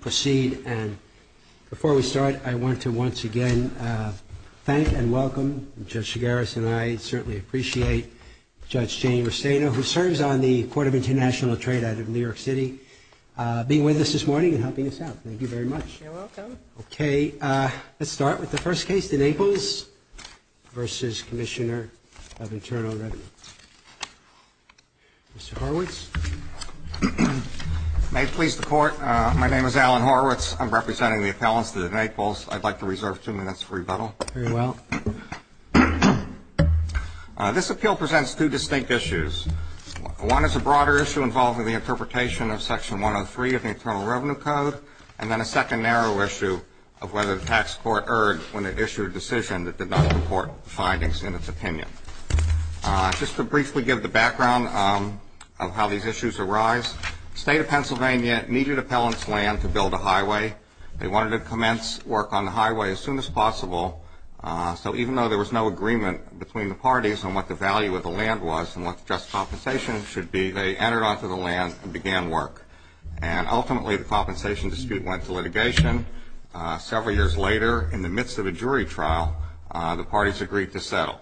Proceed and before we start I want to once again thank and welcome Judge Chigares and I certainly appreciate Judge Jane Restaino who serves on the Court of International Trade out of New York City being with us this morning and helping us out. Thank you very much. Okay let's start with the first case the Naples v. Commissioner of Internal Revenue. Mr. Horwitz. May it please the name is Alan Horwitz. I'm representing the appellants to the Naples. I'd like to reserve two minutes for rebuttal. Very well. This appeal presents two distinct issues. One is a broader issue involving the interpretation of Section 103 of the Internal Revenue Code and then a second narrow issue of whether the tax court erred when it issued a decision that did not support findings in its opinion. Just to briefly give the background of how these issues arise. State of Pennsylvania needed appellants land to build a highway. They wanted to commence work on the highway as soon as possible so even though there was no agreement between the parties on what the value of the land was and what just compensation should be they entered onto the land and began work and ultimately the compensation dispute went to litigation. Several years later in the midst of a jury trial the parties agreed to settle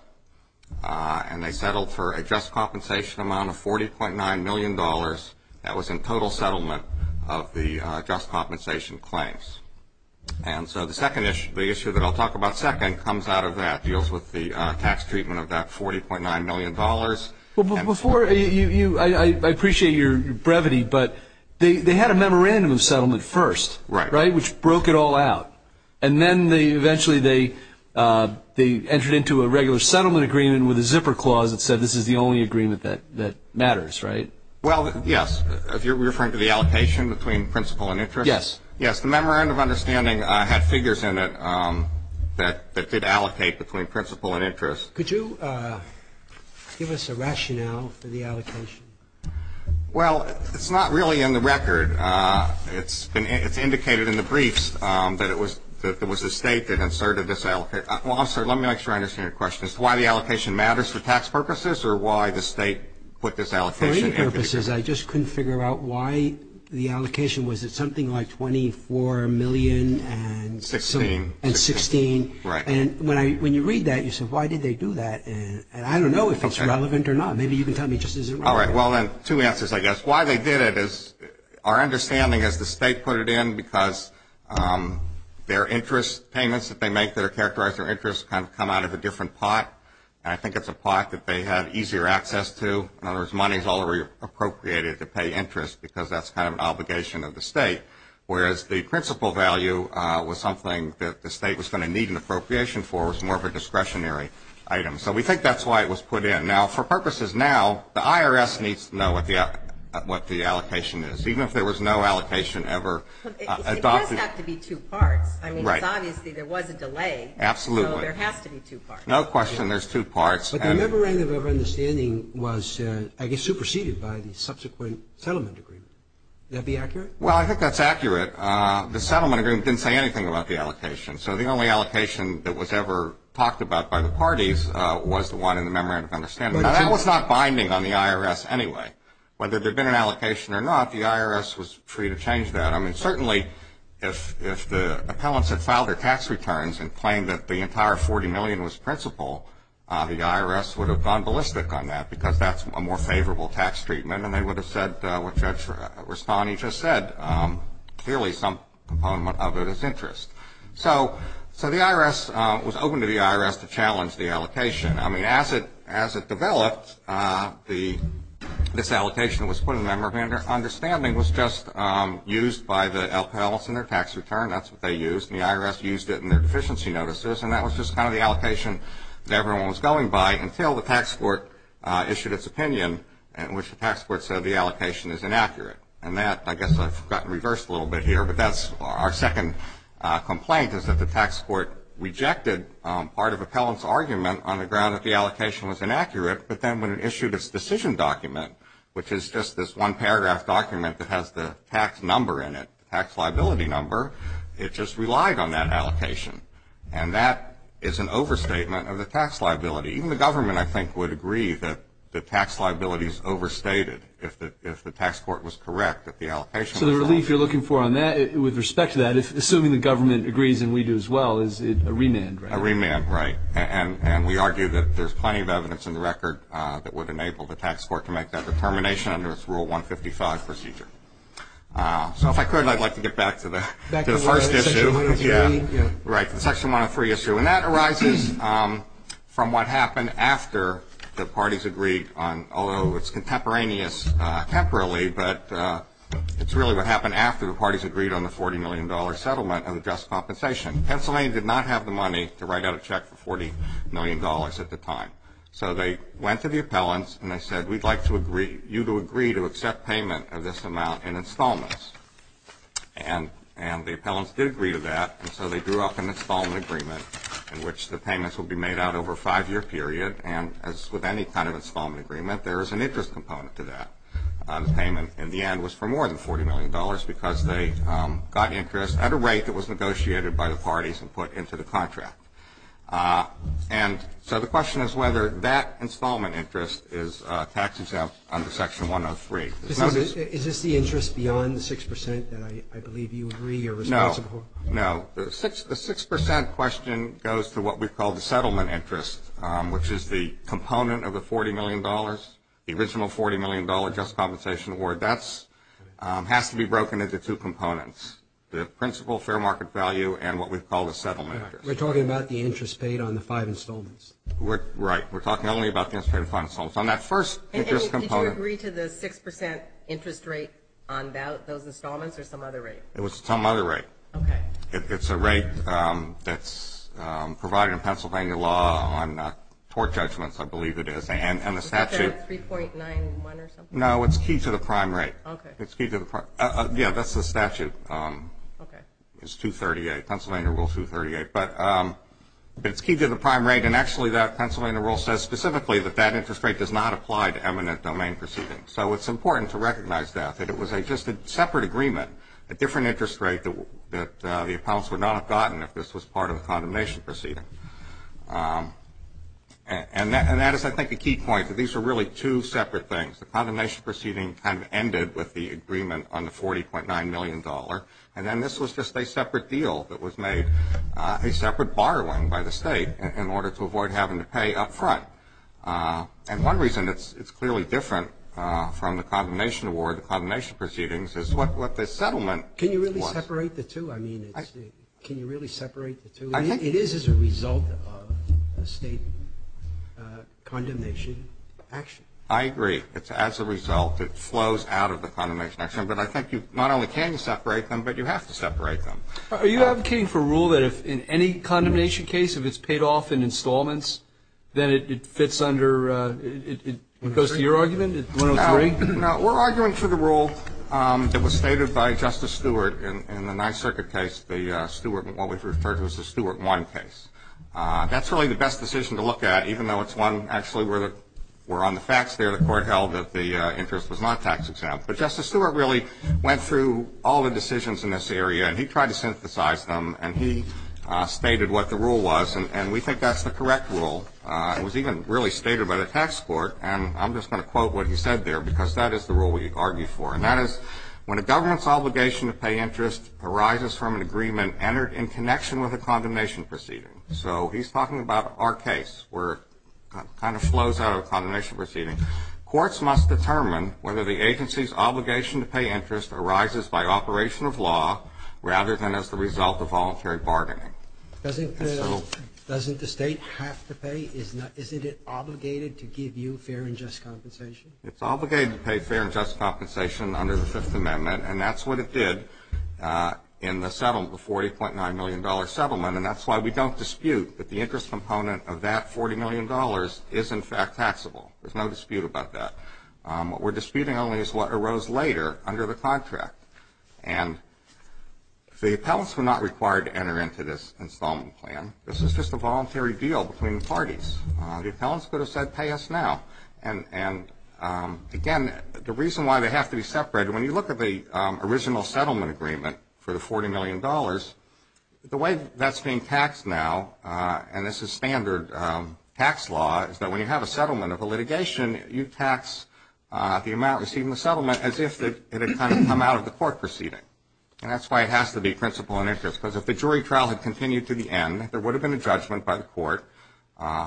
and they settled for a just compensation amount of 40.9 million dollars that was in total settlement of the just compensation claims. And so the second issue the issue that I'll talk about second comes out of that deals with the tax treatment of that 40.9 million dollars. Well before you I appreciate your brevity but they they had a memorandum of settlement first. Right. Right. Which broke it all out and then they eventually they they entered into a regular settlement agreement with a that matters. Right. Well yes. If you're referring to the allocation between principle and interest. Yes. Yes. The memorandum of understanding had figures in it that that did allocate between principle and interest. Could you give us a rationale for the allocation. Well it's not really in the record. It's been it's indicated in the briefs that it was that there was a state that inserted this. Also let me make sure I understand your question is why the allocation matters for tax purposes or why the state put this out for any purposes. I just couldn't figure out why the allocation was it something like 24 million and 16 and 16. Right. And when I when you read that you said why did they do that. And I don't know if it's relevant or not. Maybe you can tell me just as. All right. Well then two answers I guess why they did it is our understanding as the state put it in because their interest payments that they make that are characterized or interest kind of come out of a different pot. And I think it's a pot that they have easier access to. In other words money is already appropriated to pay interest because that's kind of an obligation of the state. Whereas the principal value was something that the state was going to need an appropriation for was more of a discretionary item. So we think that's why it was put in now for purposes. Now the IRS needs to know what the what the allocation is. Even if there was no allocation ever adopted to be two parts. I mean right. Obviously there was a delay. Absolutely. There has to be two parts. No question. There's two parts. But the memorandum of understanding was I guess superseded by the subsequent settlement agreement. That'd be accurate. Well I think that's accurate. The settlement agreement didn't say anything about the allocation. So the only allocation that was ever talked about by the parties was the one in the memorandum of understanding. That was not binding on the IRS anyway. Whether there'd been an allocation or not the IRS was free to change that. I mean certainly if the appellants had filed their tax returns and claimed that the entire 40 million was principal the IRS would have gone ballistic on that because that's a more favorable tax treatment and they would have said what Judge Rastani just said. Clearly some component of it is interest. So so the IRS was open to the IRS to challenge the allocation. I mean as it as it developed the this allocation was put in the memorandum of understanding was just used by the appellants and their tax return. That's what they used. The IRS used it in their deficiency notices and that was just kind of the allocation that everyone was going by until the tax court issued its opinion in which the tax court said the allocation is inaccurate. And that I guess I've gotten reversed a little bit here. But that's our second complaint is that the tax court rejected part of appellants argument on the ground that the allocation was inaccurate. But then when it issued its decision document which is just this one paragraph document that has the tax number in it. Tax liability number. It just relied on that allocation. And that is an overstatement of the tax liability. Even the government I think would agree that the tax liabilities overstated if the if the tax court was correct that the allocation. So the relief you're looking for on that with respect to that if assuming the government agrees and we do as well is it a remand. A remand right. And we argue that there's plenty of evidence in the record that would enable the tax court to make that determination under its rule 155 procedure. So if I could I'd like to get back to the first issue. Yeah. Right. Section 103 issue. And that arises from what happened after the parties agreed on although it's contemporaneous temporally but it's really what happened after the parties agreed on the 40 million dollar settlement of the just compensation. Pennsylvania did not have the money to write out a check for 40 million dollars at the time. So they went to the appellants and they said we'd like to agree to accept payment of this amount in installments. And and the appellants did agree to that. And so they drew up an installment agreement in which the payments will be made out over a five year period. And as with any kind of installment agreement there is an interest component to that payment in the end was for more than 40 million dollars because they got interest at a rate that was negotiated by the parties and put into the contract. And so the question is whether that installment interest is tax exempt under Section 103. Is this the interest beyond the 6 percent that I believe you agree you're responsible for? No. No. The 6 percent question goes to what we call the settlement interest which is the component of the 40 million dollars. The original 40 million dollar just compensation award that's has to be broken into two components. The principal fair market value and what we call the settlement. We're talking about the interest paid on the five installments. Right. We're talking only about the five installments on that first component. Did you agree to the 6 percent interest rate on those installments or some other rate? It was some other rate. OK. It's a rate that's provided in Pennsylvania law on tort judgments I believe it is and the statute. Is that 3.91 or something? No it's key to the prime rate. OK. It's key to the prime. Yeah that's the statute. OK. It's 238 Pennsylvania Rule 238. But it's key to the prime rate and actually that Pennsylvania rule says specifically that that interest rate does not apply to eminent domain proceedings. So it's important to recognize that. That it was a just a separate agreement. A different interest rate that the appellants would not have gotten if this was part of a condemnation proceeding. And that is I think the key point that these are really two separate things. The condemnation proceeding kind of ended with the agreement on the 40.9 million dollar. And then this was just a separate deal that was made a separate borrowing by the state in order to avoid having to pay up and one reason it's clearly different from the condemnation award the condemnation proceedings is what the settlement. Can you really separate the two? I mean can you really separate the two? I think it is as a result of a state condemnation action. I agree. It's as a result it flows out of the condemnation action. But I think you not only can you separate them but you have to separate them. Are you advocating for a rule that if in any condemnation case if it's paid off in installments then it fits under, it goes to your argument at 103? No. We're arguing for the rule that was stated by Justice Stewart in the Ninth Circuit case. The Stewart what was referred to as the Stewart 1 case. That's really the best decision to look at even though it's one actually where on the facts there the court held that the interest was not tax exempt. But Justice Stewart really went through all the decisions in this area and he tried to synthesize them and he stated what the rule was. And we think that's the correct rule. It was even really stated by the tax court. And I'm just going to quote what he said there because that is the rule we argue for. And that is when a government's obligation to pay interest arises from an agreement entered in connection with a condemnation proceeding. So he's talking about our case where it kind of flows out of a condemnation proceeding. Courts must determine whether the agency's obligation to pay interest arises by operation of law rather than as the result of voluntary bargaining. Doesn't the state have to pay? Isn't it obligated to give you fair and just compensation? It's obligated to pay fair and just compensation under the Fifth Amendment. And that's what it did in the settlement, the $40.9 million settlement. And that's why we don't dispute that the interest component of that $40 million is in fact taxable. There's no dispute about that. What we're disputing only is what arose later under the settlement. The appellants were not required to enter into this installment plan. This was just a voluntary deal between the parties. The appellants could have said pay us now. And again, the reason why they have to be separated, when you look at the original settlement agreement for the $40 million, the way that's being taxed now, and this is standard tax law, is that when you have a settlement of a litigation, you tax the amount received in the settlement as if it had kind of come out of the court proceeding. And that's why it has to be principle and interest. Because if the jury trial had continued to the end, there would have been a judgment by the court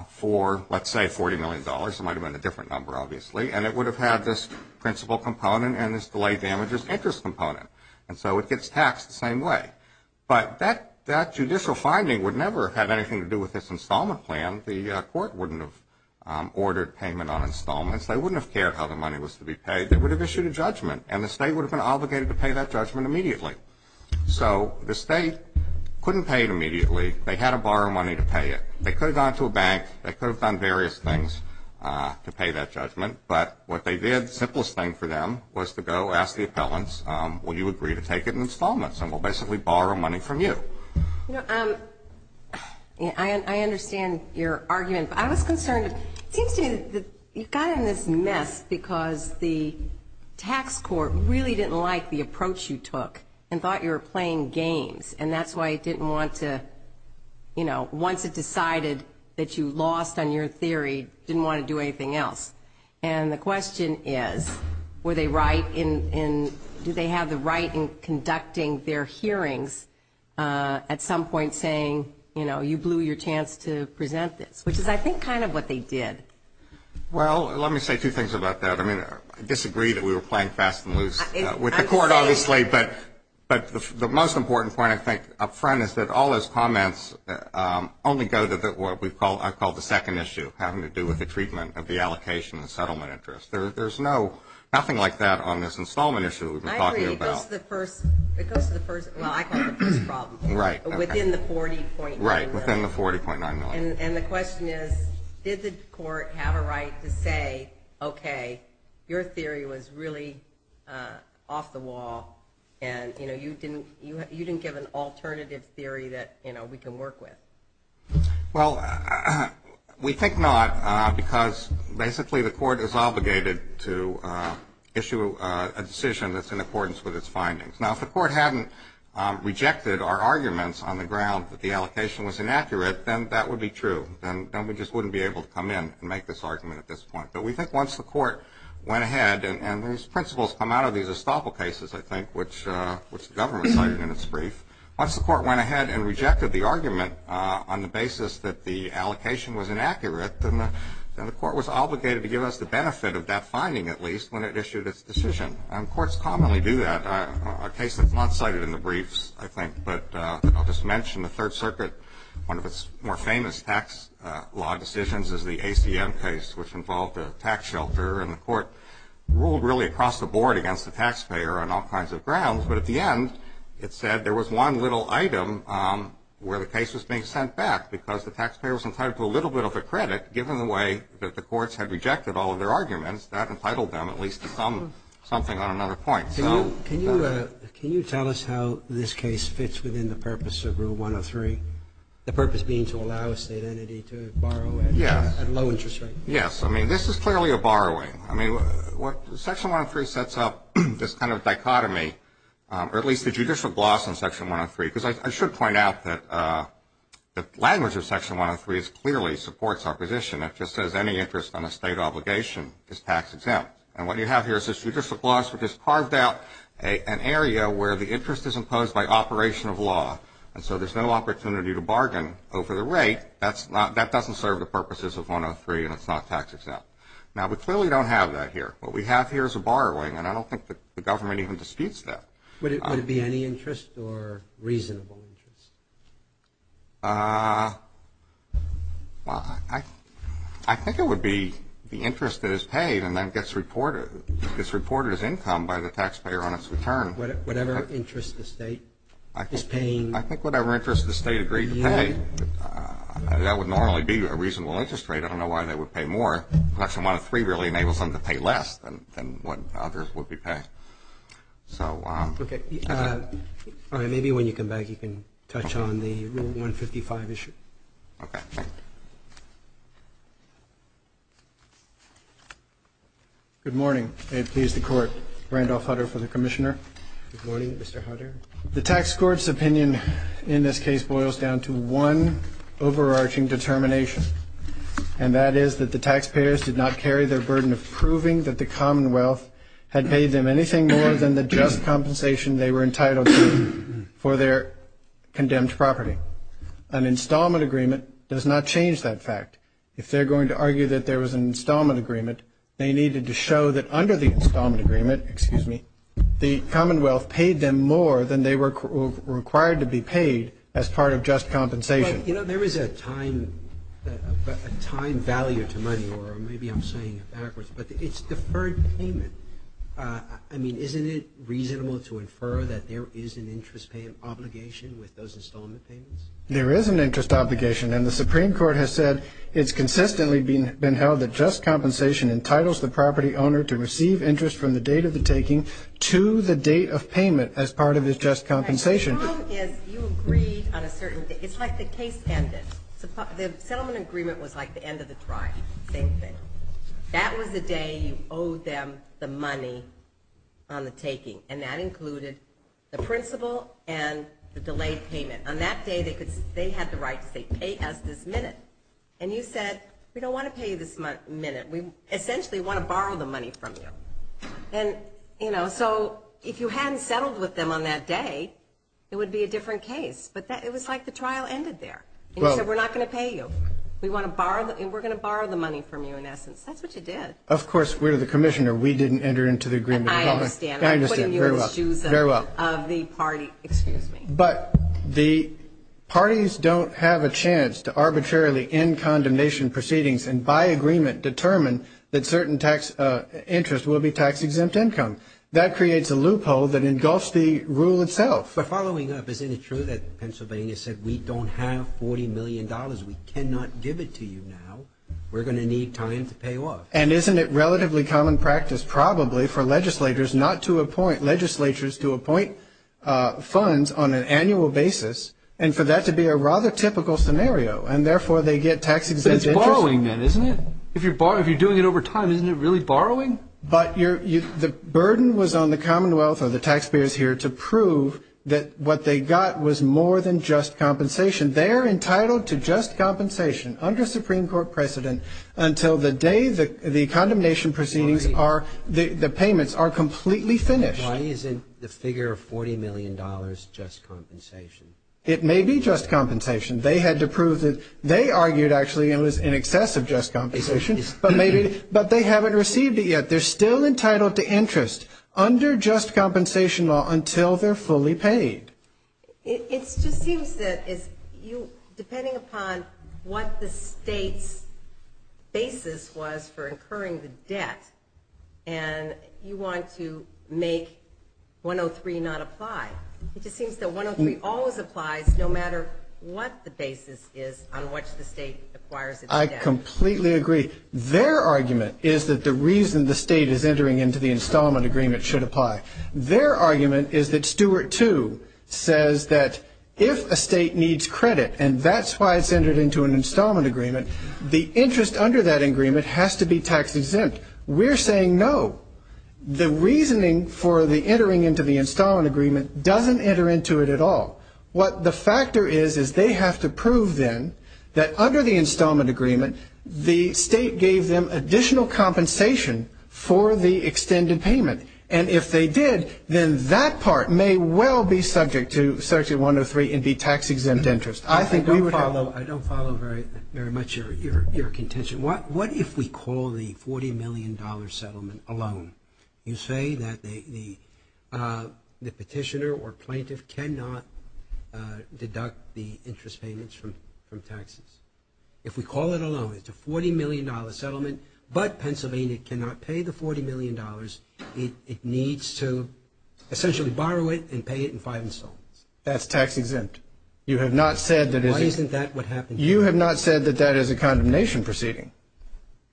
for, let's say, $40 million. It might have been a different number, obviously. And it would have had this principle component and this delay damages interest component. And so it gets taxed the same way. But that judicial finding would never have had anything to do with this installment plan. The court wouldn't have ordered payment on installments. They wouldn't have cared how the money was to be paid. They would have issued a judgment. And the state would have been So the state couldn't pay it immediately. They had to borrow money to pay it. They could have gone to a bank. They could have done various things to pay that judgment. But what they did, the simplest thing for them, was to go ask the appellants, will you agree to take it in installments? And we'll basically borrow money from you. You know, I understand your argument. But I was concerned. It seems to me that you got in this mess because the tax court really didn't like the approach you took and thought you were playing games. And that's why it didn't want to, you know, once it decided that you lost on your theory, didn't want to do anything else. And the question is, were they right in, do they have the right in conducting their hearings at some point saying, you know, you blew your chance to present this? Which is, I think, kind of what they did. Well, let me say two things about that. I mean, I disagree that we were playing fast and loose with the court, obviously. But the most important point, I think, up front is that all those comments only go to what I call the second issue, having to do with the treatment of the allocation and settlement interest. There's no, nothing like that on this installment issue that we've been talking about. I agree. It goes to the first, well, I call it the first problem. Right. Within the $40.9 million. Right. Within the $40.9 million. And the question is, did the court have a right to say, okay, your theory was really off the wall, and, you know, you didn't give an alternative theory that, you know, we can work with. Well, we think not, because basically the court is obligated to issue a decision that's in accordance with its findings. Now, if the court hadn't rejected our arguments on the ground that the allocation was inaccurate, then that would be true. Then we just wouldn't be able to come in and make this argument at this point. But we think once the court went ahead, and these principles come out of these Estoppel cases, I think, which the government cited in its brief, once the court went ahead and rejected the argument on the basis that the allocation was inaccurate, then the court was obligated to give us the benefit of that finding, at least, when it issued its decision. And courts commonly do that. A case that's not cited in the briefs, I think, but I'll just mention the Third Circuit, one of its more famous tax law decisions is the ACM case, which involved a tax shelter. And the court ruled, really, across the board against the taxpayer on all kinds of grounds. But at the end, it said there was one little item where the case was being sent back, because the taxpayer was entitled to a little bit of a credit. Given the way that the courts had rejected all of their arguments, that entitled them, at least, to something on another point. Can you tell us how this case fits within the purpose of Rule 103, the purpose being to allow a state entity to borrow at low interest rates? Yes. I mean, this is clearly a borrowing. I mean, Section 103 sets up this kind of dichotomy, or at least the judicial gloss on Section 103. Because I should point out that the language of Section 103 clearly supports opposition. It just says any interest on a state obligation is tax exempt. And what you have here is this judicial gloss, which has carved out an area where the interest is imposed by operation of law. And so there's no opportunity to bargain over the rate. That doesn't serve the purpose of tax exempt. Now, we clearly don't have that here. What we have here is a borrowing, and I don't think that the government even disputes that. Would it be any interest or reasonable interest? Well, I think it would be the interest that is paid and then gets reported as income by the taxpayer on its return. Whatever interest the state is paying? I think whatever interest the state agreed to pay. That would normally be a reasonable interest rate. I don't know why they would pay more. Section 103 really enables them to pay less than what others would be paying. Okay. All right. Maybe when you come back, you can touch on the Rule 155 issue. Okay. Good morning. May it please the Court. Randolph Hutter for the Commissioner. Good morning, Mr. Hutter. The tax court's opinion in this case boils down to one overarching determination, and that is that the taxpayers did not carry their burden of proving that the Commonwealth had paid them anything more than the just compensation they were entitled to for their condemned property. An installment agreement does not change that fact. If they're going to argue that there was an installment agreement, they needed to show that under the installment agreement, the Commonwealth paid them more than they were required to be paid as part of just compensation. Right. You know, there is a time value to money, or maybe I'm saying backwards, but it's deferred payment. I mean, isn't it reasonable to infer that there is an interest obligation with those installment payments? There is an interest obligation, and the Supreme Court has said it's consistently been held that just compensation entitles the property owner to receive interest from the date of the taking to the date of payment as part of his just compensation. The problem is you agreed on a certain date. It's like the case ended. The settlement agreement was like the end of the drive, same thing. That was the day you owed them the money on the taking, and that included the principal and the delayed payment. On that day, they had the right to say, pay us this minute. And you said, we don't want to pay you this minute. We essentially want to borrow the money from you. And, you know, so if you hadn't settled with them on that day, it would be a different case. But it was like the trial ended there. And you said, we're not going to pay you. We're going to borrow the money from you, in essence. That's what you did. Of course, we're the commissioner. We didn't enter into the agreement. I understand. I'm putting you in the shoes of the party. But the parties don't have a chance to arbitrarily end condemnation proceedings and by agreement determine that certain interest will be But following up, isn't it true that Pennsylvania said, we don't have $40 million. We cannot give it to you now. We're going to need time to pay off. And isn't it relatively common practice, probably, for legislators not to appoint, legislatures to appoint funds on an annual basis, and for that to be a rather typical scenario. And therefore, they get tax exempt interest. But it's borrowing then, isn't it? If you're doing it over time, isn't it really borrowing? But the burden was on the Commonwealth or the taxpayers here to prove that what they got was more than just compensation. They're entitled to just compensation under Supreme Court precedent until the day the condemnation proceedings are, the payments are completely finished. Why isn't the figure of $40 million just compensation? It may be just compensation. They had to prove that, they argued, actually, it was in excess of just compensation. But they haven't received it yet. They're still entitled to interest under just compensation law until they're fully paid. It just seems that, depending upon what the state's basis was for incurring the debt, and you want to make 103 not apply, it just seems that 103 always applies, no matter what the basis is on which the state acquires its debt. I completely agree. Their argument is that the reason the state is entering into the installment agreement should apply. Their argument is that Stuart 2 says that if a state needs credit, and that's why it's entered into an installment agreement, the interest under that agreement has to be tax exempt. We're saying no. The reasoning for the entering into the installment agreement doesn't enter into it at all. What the factor is is they have to prove then that under the installment agreement, the state gave them additional compensation for the extended payment. And if they did, then that part may well be subject to Section 103 and be tax-exempt interest. I think we would have to follow. I don't follow very much your contention. What if we call the $40 million settlement a loan? You say that the petitioner or plaintiff cannot deduct the interest payments from taxes. If we call it a loan, it's a $40 million settlement, but Pennsylvania cannot pay the $40 million. It needs to essentially borrow it and pay it in five installments. That's tax-exempt. Why isn't that what happened? You have not said that that is a condemnation proceeding.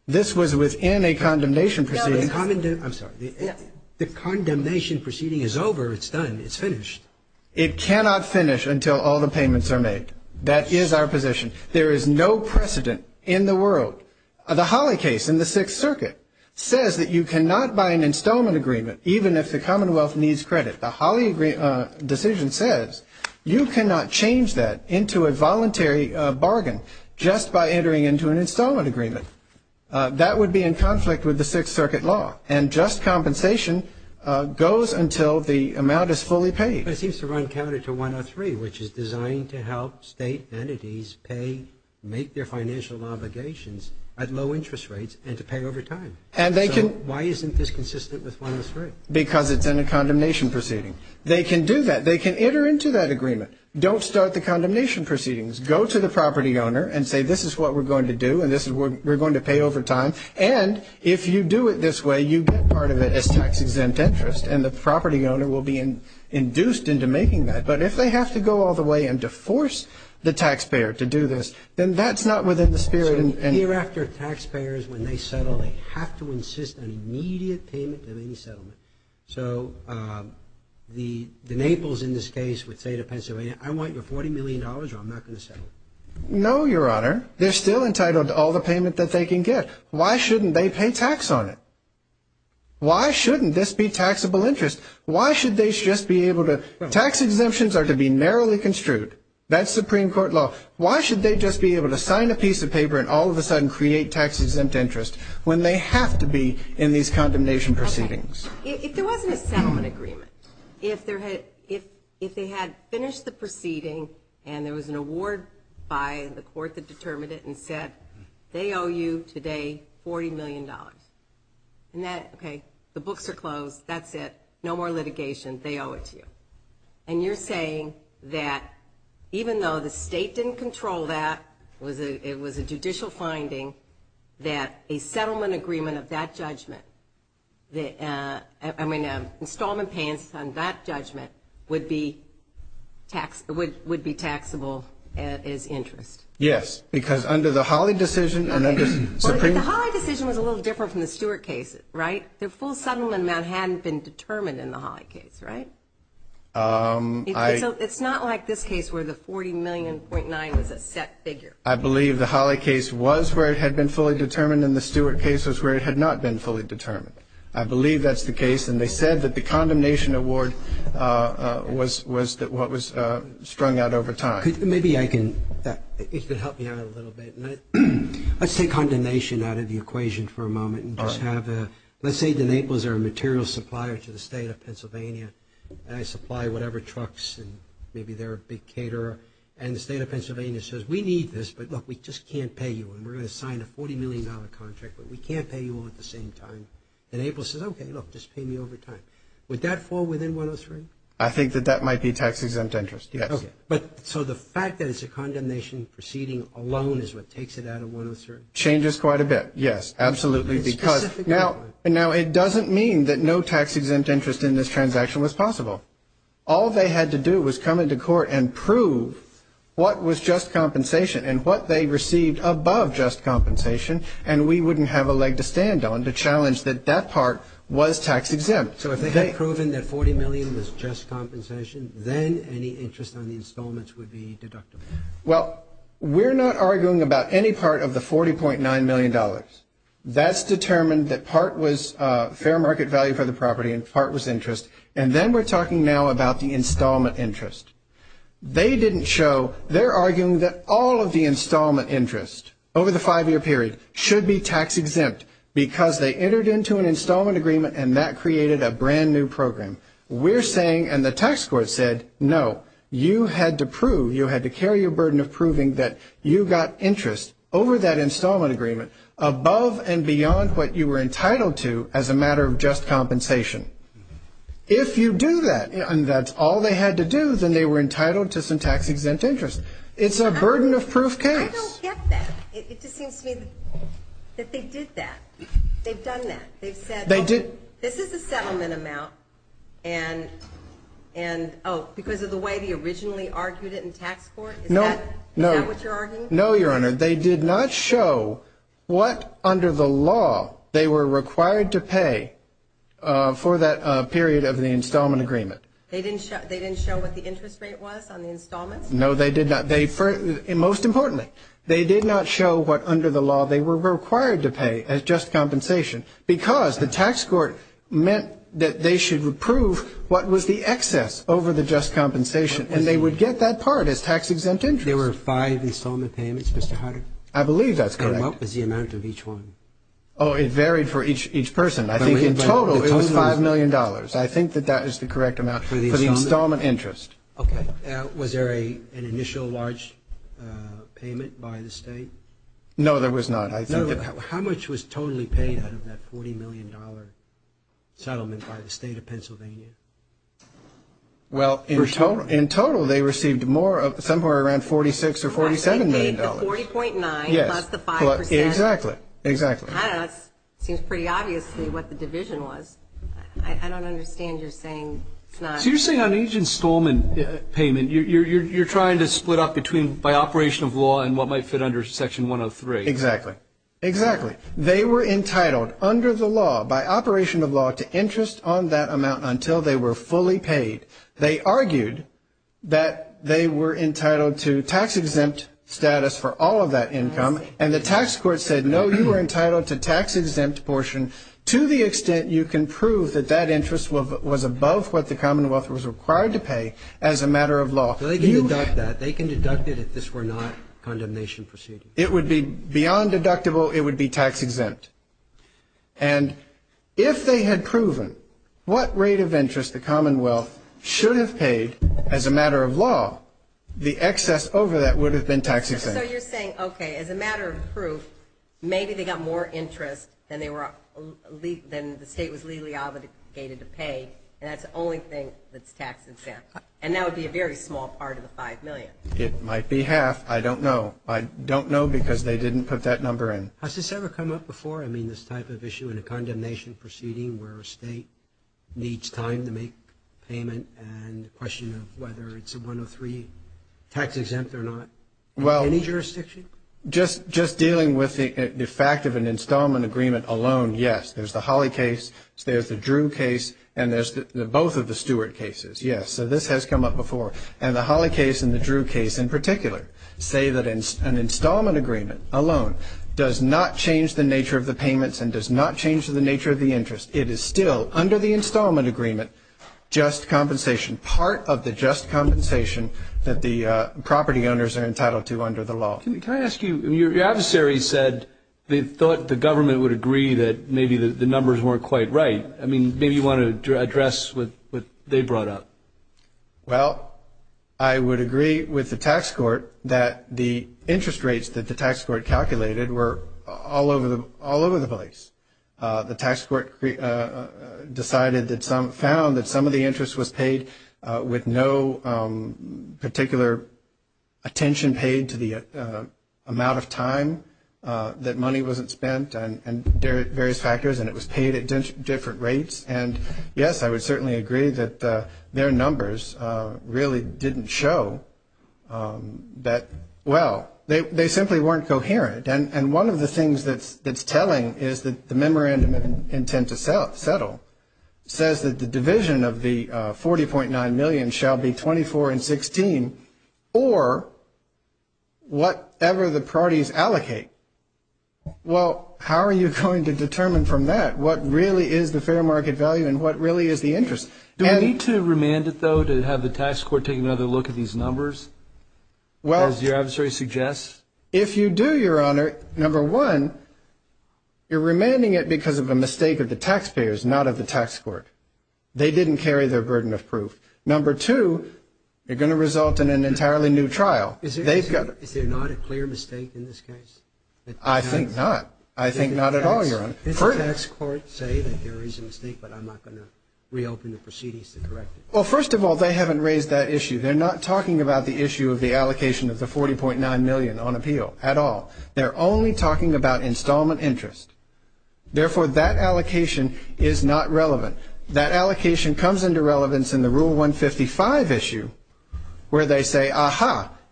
This was within a condemnation proceeding. No, but the condemnation proceeding is over. It's done. It's finished. It cannot finish until all the payments are made. That is our position. There is no precedent in the world. The Holley case in the Sixth Circuit says that you cannot buy an installment agreement even if the Commonwealth needs credit. The Holley decision says you cannot change that into a voluntary bargain just by entering into an installment agreement. That would be in conflict with the Sixth Circuit law. And just compensation goes until the amount is fully paid. But it seems to run counter to 103, which is designed to help state entities make their financial obligations at low interest rates and to pay over time. So why isn't this consistent with 103? Because it's in a condemnation proceeding. They can do that. They can enter into that agreement. Don't start the condemnation proceedings. Go to the property owner and say, this is what we're going to do, and we're going to pay over time. And if you do it this way, you get part of it as tax-exempt interest, and the But if they have to go all the way and to force the taxpayer to do this, then that's not within the spirit. So hereafter, taxpayers, when they settle, they have to insist an immediate payment of any settlement. So the Naples in this case would say to Pennsylvania, I want your $40 million or I'm not going to settle. No, Your Honor. They're still entitled to all the payment that they can get. Why shouldn't they pay tax on it? Why shouldn't this be taxable interest? Why should they just be able to tax exemptions are to be narrowly construed. That's Supreme Court law. Why should they just be able to sign a piece of paper and all of a sudden create tax-exempt interest when they have to be in these condemnation proceedings? If there wasn't a settlement agreement, if they had finished the proceeding and there was an award by the court that determined it and said, they owe you today $40 million. Okay, the books are closed. That's it. No more litigation. They owe it to you. And you're saying that even though the state didn't control that, it was a judicial finding, that a settlement agreement of that judgment, I mean, installment payments on that judgment would be taxable as interest? Yes, because under the Hawley decision and under Supreme Court. The Hawley decision was a little different from the Stewart case, right? Their full settlement amount hadn't been determined in the Hawley case, right? It's not like this case where the $40 million.9 was a set figure. I believe the Hawley case was where it had been fully determined and the Stewart case was where it had not been fully determined. I believe that's the case. And they said that the condemnation award was what was strung out over time. Maybe I can help you out a little bit. Let's take condemnation out of the equation for a moment. Let's say that Naples are a material supplier to the state of Pennsylvania, and I supply whatever trucks and maybe they're a big caterer, and the state of Pennsylvania says, we need this, but, look, we just can't pay you. And we're going to sign a $40 million contract, but we can't pay you all at the same time. And Naples says, okay, look, just pay me over time. Would that fall within 103? I think that that might be tax-exempt interest, yes. Okay. So the fact that it's a condemnation proceeding alone is what takes it out of 103? Changes quite a bit, yes. Absolutely, because now it doesn't mean that no tax-exempt interest in this transaction was possible. All they had to do was come into court and prove what was just compensation and what they received above just compensation, and we wouldn't have a leg to stand on to challenge that that part was tax-exempt. So if they had proven that $40 million was just compensation, then any interest on the installments would be deductible. Well, we're not arguing about any part of the $40.9 million. That's determined that part was fair market value for the property and part was interest. And then we're talking now about the installment interest. They didn't show. They're arguing that all of the installment interest over the five-year period should be tax-exempt because they entered into an installment agreement and that created a brand-new program. We're saying, and the tax court said, no, you had to prove, you had to carry your burden of proving that you got interest over that installment agreement above and beyond what you were entitled to as a matter of just compensation. If you do that, and that's all they had to do, then they were entitled to some tax-exempt interest. It's a burden-of-proof case. I don't get that. It just seems to me that they did that. They've done that. They've said, well, this is a settlement amount, and, oh, because of the way they originally argued it in tax court? No. Is that what you're arguing? No, Your Honor. They did not show what, under the law, they were required to pay for that period of the installment agreement. They didn't show what the interest rate was on the installments? No, they did not. Most importantly, they did not show what, under the law, they were required to pay as just compensation because the tax court meant that they should approve what was the excess over the just compensation, and they would get that part as tax-exempt interest. There were five installment payments, Mr. Hodder? I believe that's correct. And what was the amount of each one? Oh, it varied for each person. I think in total it was $5 million. I think that that is the correct amount for the installment interest. Okay. Was there an initial large payment by the State? No, there was not. How much was totally paid out of that $40 million settlement by the State of Pennsylvania? Well, in total they received somewhere around $46 or $47 million. They paid the 40.9 plus the 5%. Exactly. I don't know. It seems pretty obvious to me what the division was. I don't understand your saying it's not. So you're saying on each installment payment you're trying to split up by operation of law and what might fit under Section 103? Exactly. Exactly. They were entitled under the law, by operation of law, to interest on that amount until they were fully paid. They argued that they were entitled to tax-exempt status for all of that income, and the tax court said, no, you were entitled to tax-exempt portion to the extent you can prove that that interest was above what the Commonwealth was required to pay as a matter of law. They can deduct that. They can deduct it if this were not a condemnation proceeding. It would be beyond deductible. It would be tax-exempt. And if they had proven what rate of interest the Commonwealth should have paid as a matter of law, the excess over that would have been tax-exempt. So you're saying, okay, as a matter of proof, maybe they got more interest than the State was legally obligated to pay, and that's the only thing that's tax-exempt. And that would be a very small part of the $5 million. It might be half. I don't know. I don't know because they didn't put that number in. Has this ever come up before, I mean, this type of issue in a condemnation proceeding where a State needs time to make payment and the question of whether it's a 103 tax-exempt or not in any jurisdiction? Well, just dealing with the fact of an installment agreement alone, yes. There's the Holley case. There's the Drew case. And there's both of the Stewart cases, yes. So this has come up before. And the Holley case and the Drew case, in particular, say that an installment agreement alone does not change the nature of the payments and does not change the nature of the interest. It is still, under the installment agreement, just compensation, part of the just compensation that the property owners are entitled to under the law. Can I ask you, your adversary said they thought the government would agree that maybe the numbers weren't quite right. I mean, maybe you want to address what they brought up. Well, I would agree with the tax court that the interest rates that the tax court calculated were all over the place. The tax court found that some of the interest was paid with no particular attention paid to the amount of time that money wasn't spent and various factors, and it was paid at different rates. And, yes, I would certainly agree that their numbers really didn't show that, well, they simply weren't coherent. And one of the things that's telling is that the memorandum of intent to settle says that the division of the $40.9 million shall be 24 and 16 or whatever the parties allocate. Well, how are you going to determine from that? What really is the fair market value and what really is the interest? Do we need to remand it, though, to have the tax court take another look at these numbers, as your adversary suggests? If you do, your honor, number one, you're remanding it because of a mistake of the taxpayers, not of the tax court. They didn't carry their burden of proof. Number two, you're going to result in an entirely new trial. Is there not a clear mistake in this case? I think not. I think not at all, your honor. Did the tax court say that there is a mistake, but I'm not going to reopen the proceedings to correct it? Well, first of all, they haven't raised that issue. They're not talking about the issue of the allocation of the $40.9 million on appeal at all. They're only talking about installment interest. Therefore, that allocation is not relevant. That allocation comes into relevance in the Rule 155 issue where they say,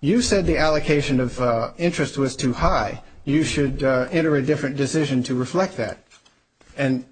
You said the allocation of interest was too high. You should enter a different decision to reflect that. And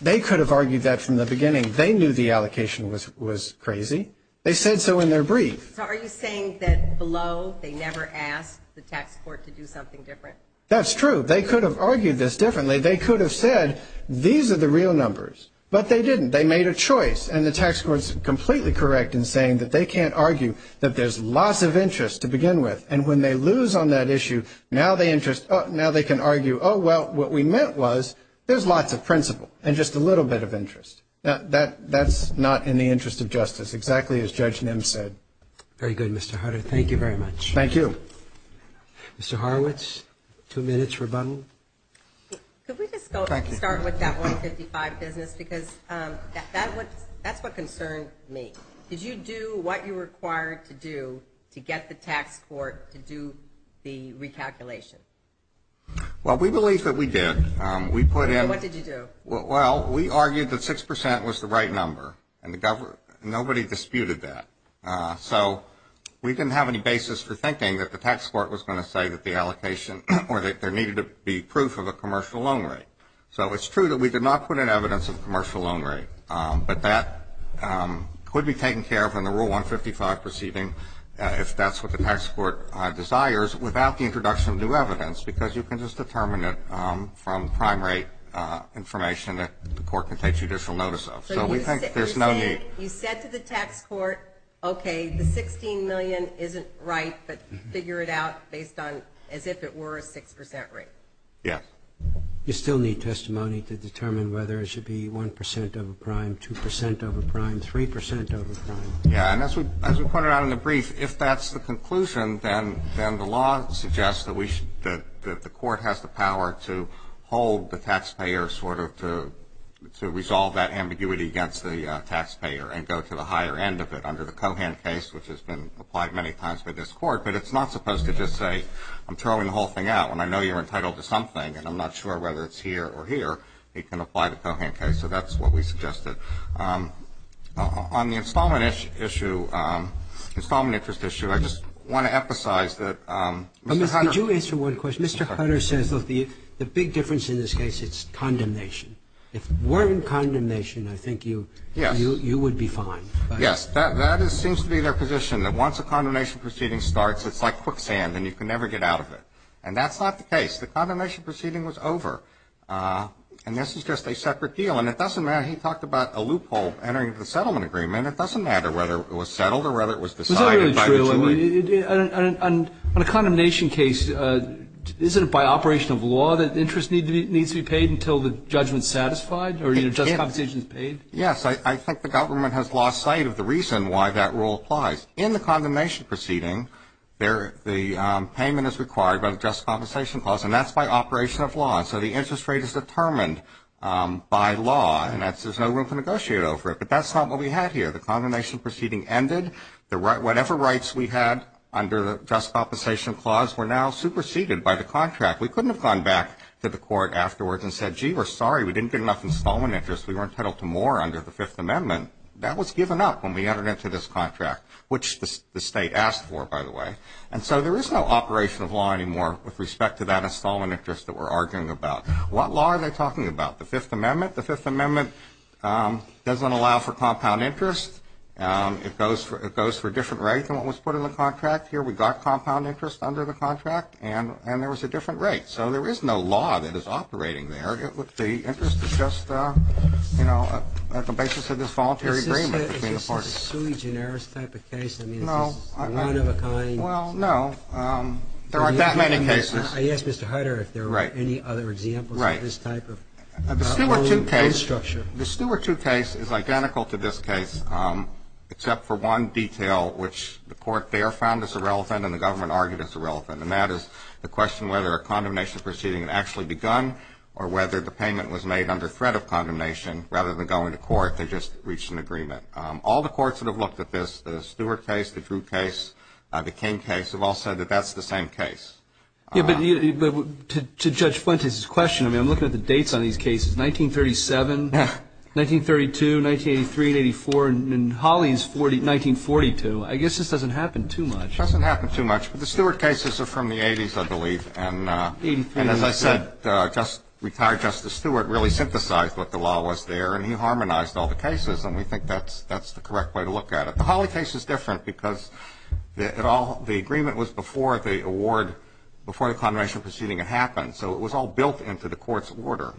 they could have argued that from the beginning. They knew the allocation was crazy. They said so in their brief. So are you saying that below they never asked the tax court to do something different? That's true. They could have argued this differently. They could have said these are the real numbers, but they didn't. They made a choice, and the tax court is completely correct in saying that they can't argue that there's loss of interest to begin with. And when they lose on that issue, now they can argue, oh, well, what we meant was there's lots of principle and just a little bit of interest. That's not in the interest of justice, exactly as Judge Nim said. Very good, Mr. Hutter. Thank you very much. Thank you. Mr. Horowitz, two minutes rebuttal. Could we just start with that 155 business because that's what concerned me. Did you do what you were required to do to get the tax court to do the recalculation? Well, we believe that we did. What did you do? Well, we argued that 6% was the right number, and nobody disputed that. So we didn't have any basis for thinking that the tax court was going to say that the allocation or that there needed to be proof of a commercial loan rate. So it's true that we did not put in evidence of commercial loan rate, but that could be taken care of in the Rule 155 proceeding if that's what the tax court desires without the introduction of new evidence because you can just determine it from prime rate information that the court can take judicial notice of. So we think there's no need. You said to the tax court, okay, the $16 million isn't right, but figure it out based on as if it were a 6% rate. Yes. You still need testimony to determine whether it should be 1% over prime, 2% over prime, 3% over prime. Yeah, and as we pointed out in the brief, if that's the conclusion, then the law suggests that the court has the power to hold the taxpayer sort of to resolve that ambiguity against the taxpayer and go to the higher end of it under the Cohan case, which has been applied many times by this court. But it's not supposed to just say, I'm throwing the whole thing out, and I know you're entitled to something, and I'm not sure whether it's here or here. It can apply to the Cohan case, so that's what we suggested. On the installment issue, installment interest issue, I just want to emphasize that Mr. Hunter Could you answer one question? Mr. Hunter says, look, the big difference in this case, it's condemnation. If it weren't condemnation, I think you would be fine. Yes. Yes. That seems to be their position, that once a condemnation proceeding starts, it's like quicksand and you can never get out of it. And that's not the case. The condemnation proceeding was over, and this is just a separate deal. And it doesn't matter. He talked about a loophole entering into the settlement agreement. It doesn't matter whether it was settled or whether it was decided by the jury. Is that really true? I mean, on a condemnation case, isn't it by operation of law that interest needs to be paid until the judgment's satisfied or, you know, just compensation is paid? Yes. I think the government has lost sight of the reason why that rule applies. In the condemnation proceeding, the payment is required by the just compensation clause, and that's by operation of law. And so the interest rate is determined by law, and there's no room to negotiate over it. But that's not what we had here. The condemnation proceeding ended. Whatever rights we had under the just compensation clause were now superseded by the contract. We couldn't have gone back to the court afterwards and said, gee, we're sorry. We didn't get enough installment interest. We weren't entitled to more under the Fifth Amendment. That was given up when we entered into this contract, which the state asked for, by the way. And so there is no operation of law anymore with respect to that installment interest that we're arguing about. What law are they talking about? The Fifth Amendment? The Fifth Amendment doesn't allow for compound interest. It goes for different rates than what was put in the contract. Here we got compound interest under the contract, and there was a different rate. So there is no law that is operating there. The interest is just, you know, at the basis of this voluntary agreement between the parties. Is this a sui generis type of case? I mean, is this one of a kind? Well, no. There aren't that many cases. I asked Mr. Hider if there were any other examples of this type of own case structure. The Stewart II case is identical to this case, except for one detail, which the court there found as irrelevant and the government argued as irrelevant, and that is the question whether a condemnation proceeding had actually begun or whether the payment was made under threat of condemnation. Rather than going to court, they just reached an agreement. All the courts that have looked at this, the Stewart case, the Drew case, the King case, have all said that that's the same case. Yeah, but to Judge Fuentes' question, I mean, I'm looking at the dates on these cases, 1937, 1932, 1983, 1984, and Holly's 1942. I guess this doesn't happen too much. It doesn't happen too much, but the Stewart cases are from the 80s, I believe. And as I said, retired Justice Stewart really synthesized what the law was there, and he harmonized all the cases, and we think that's the correct way to look at it. The Holly case is different because it all, the agreement was before the award, before the condemnation proceeding had happened, so it was all built into the court's order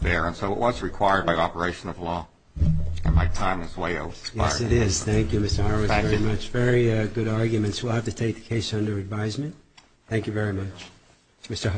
there, and so it was required by operation of law, and my time is way over. Yes, it is. Thank you, Mr. Horowitz, very much. Thank you. Very good arguments. We'll have to take the case under advisement. Thank you very much, Mr. Horowitz.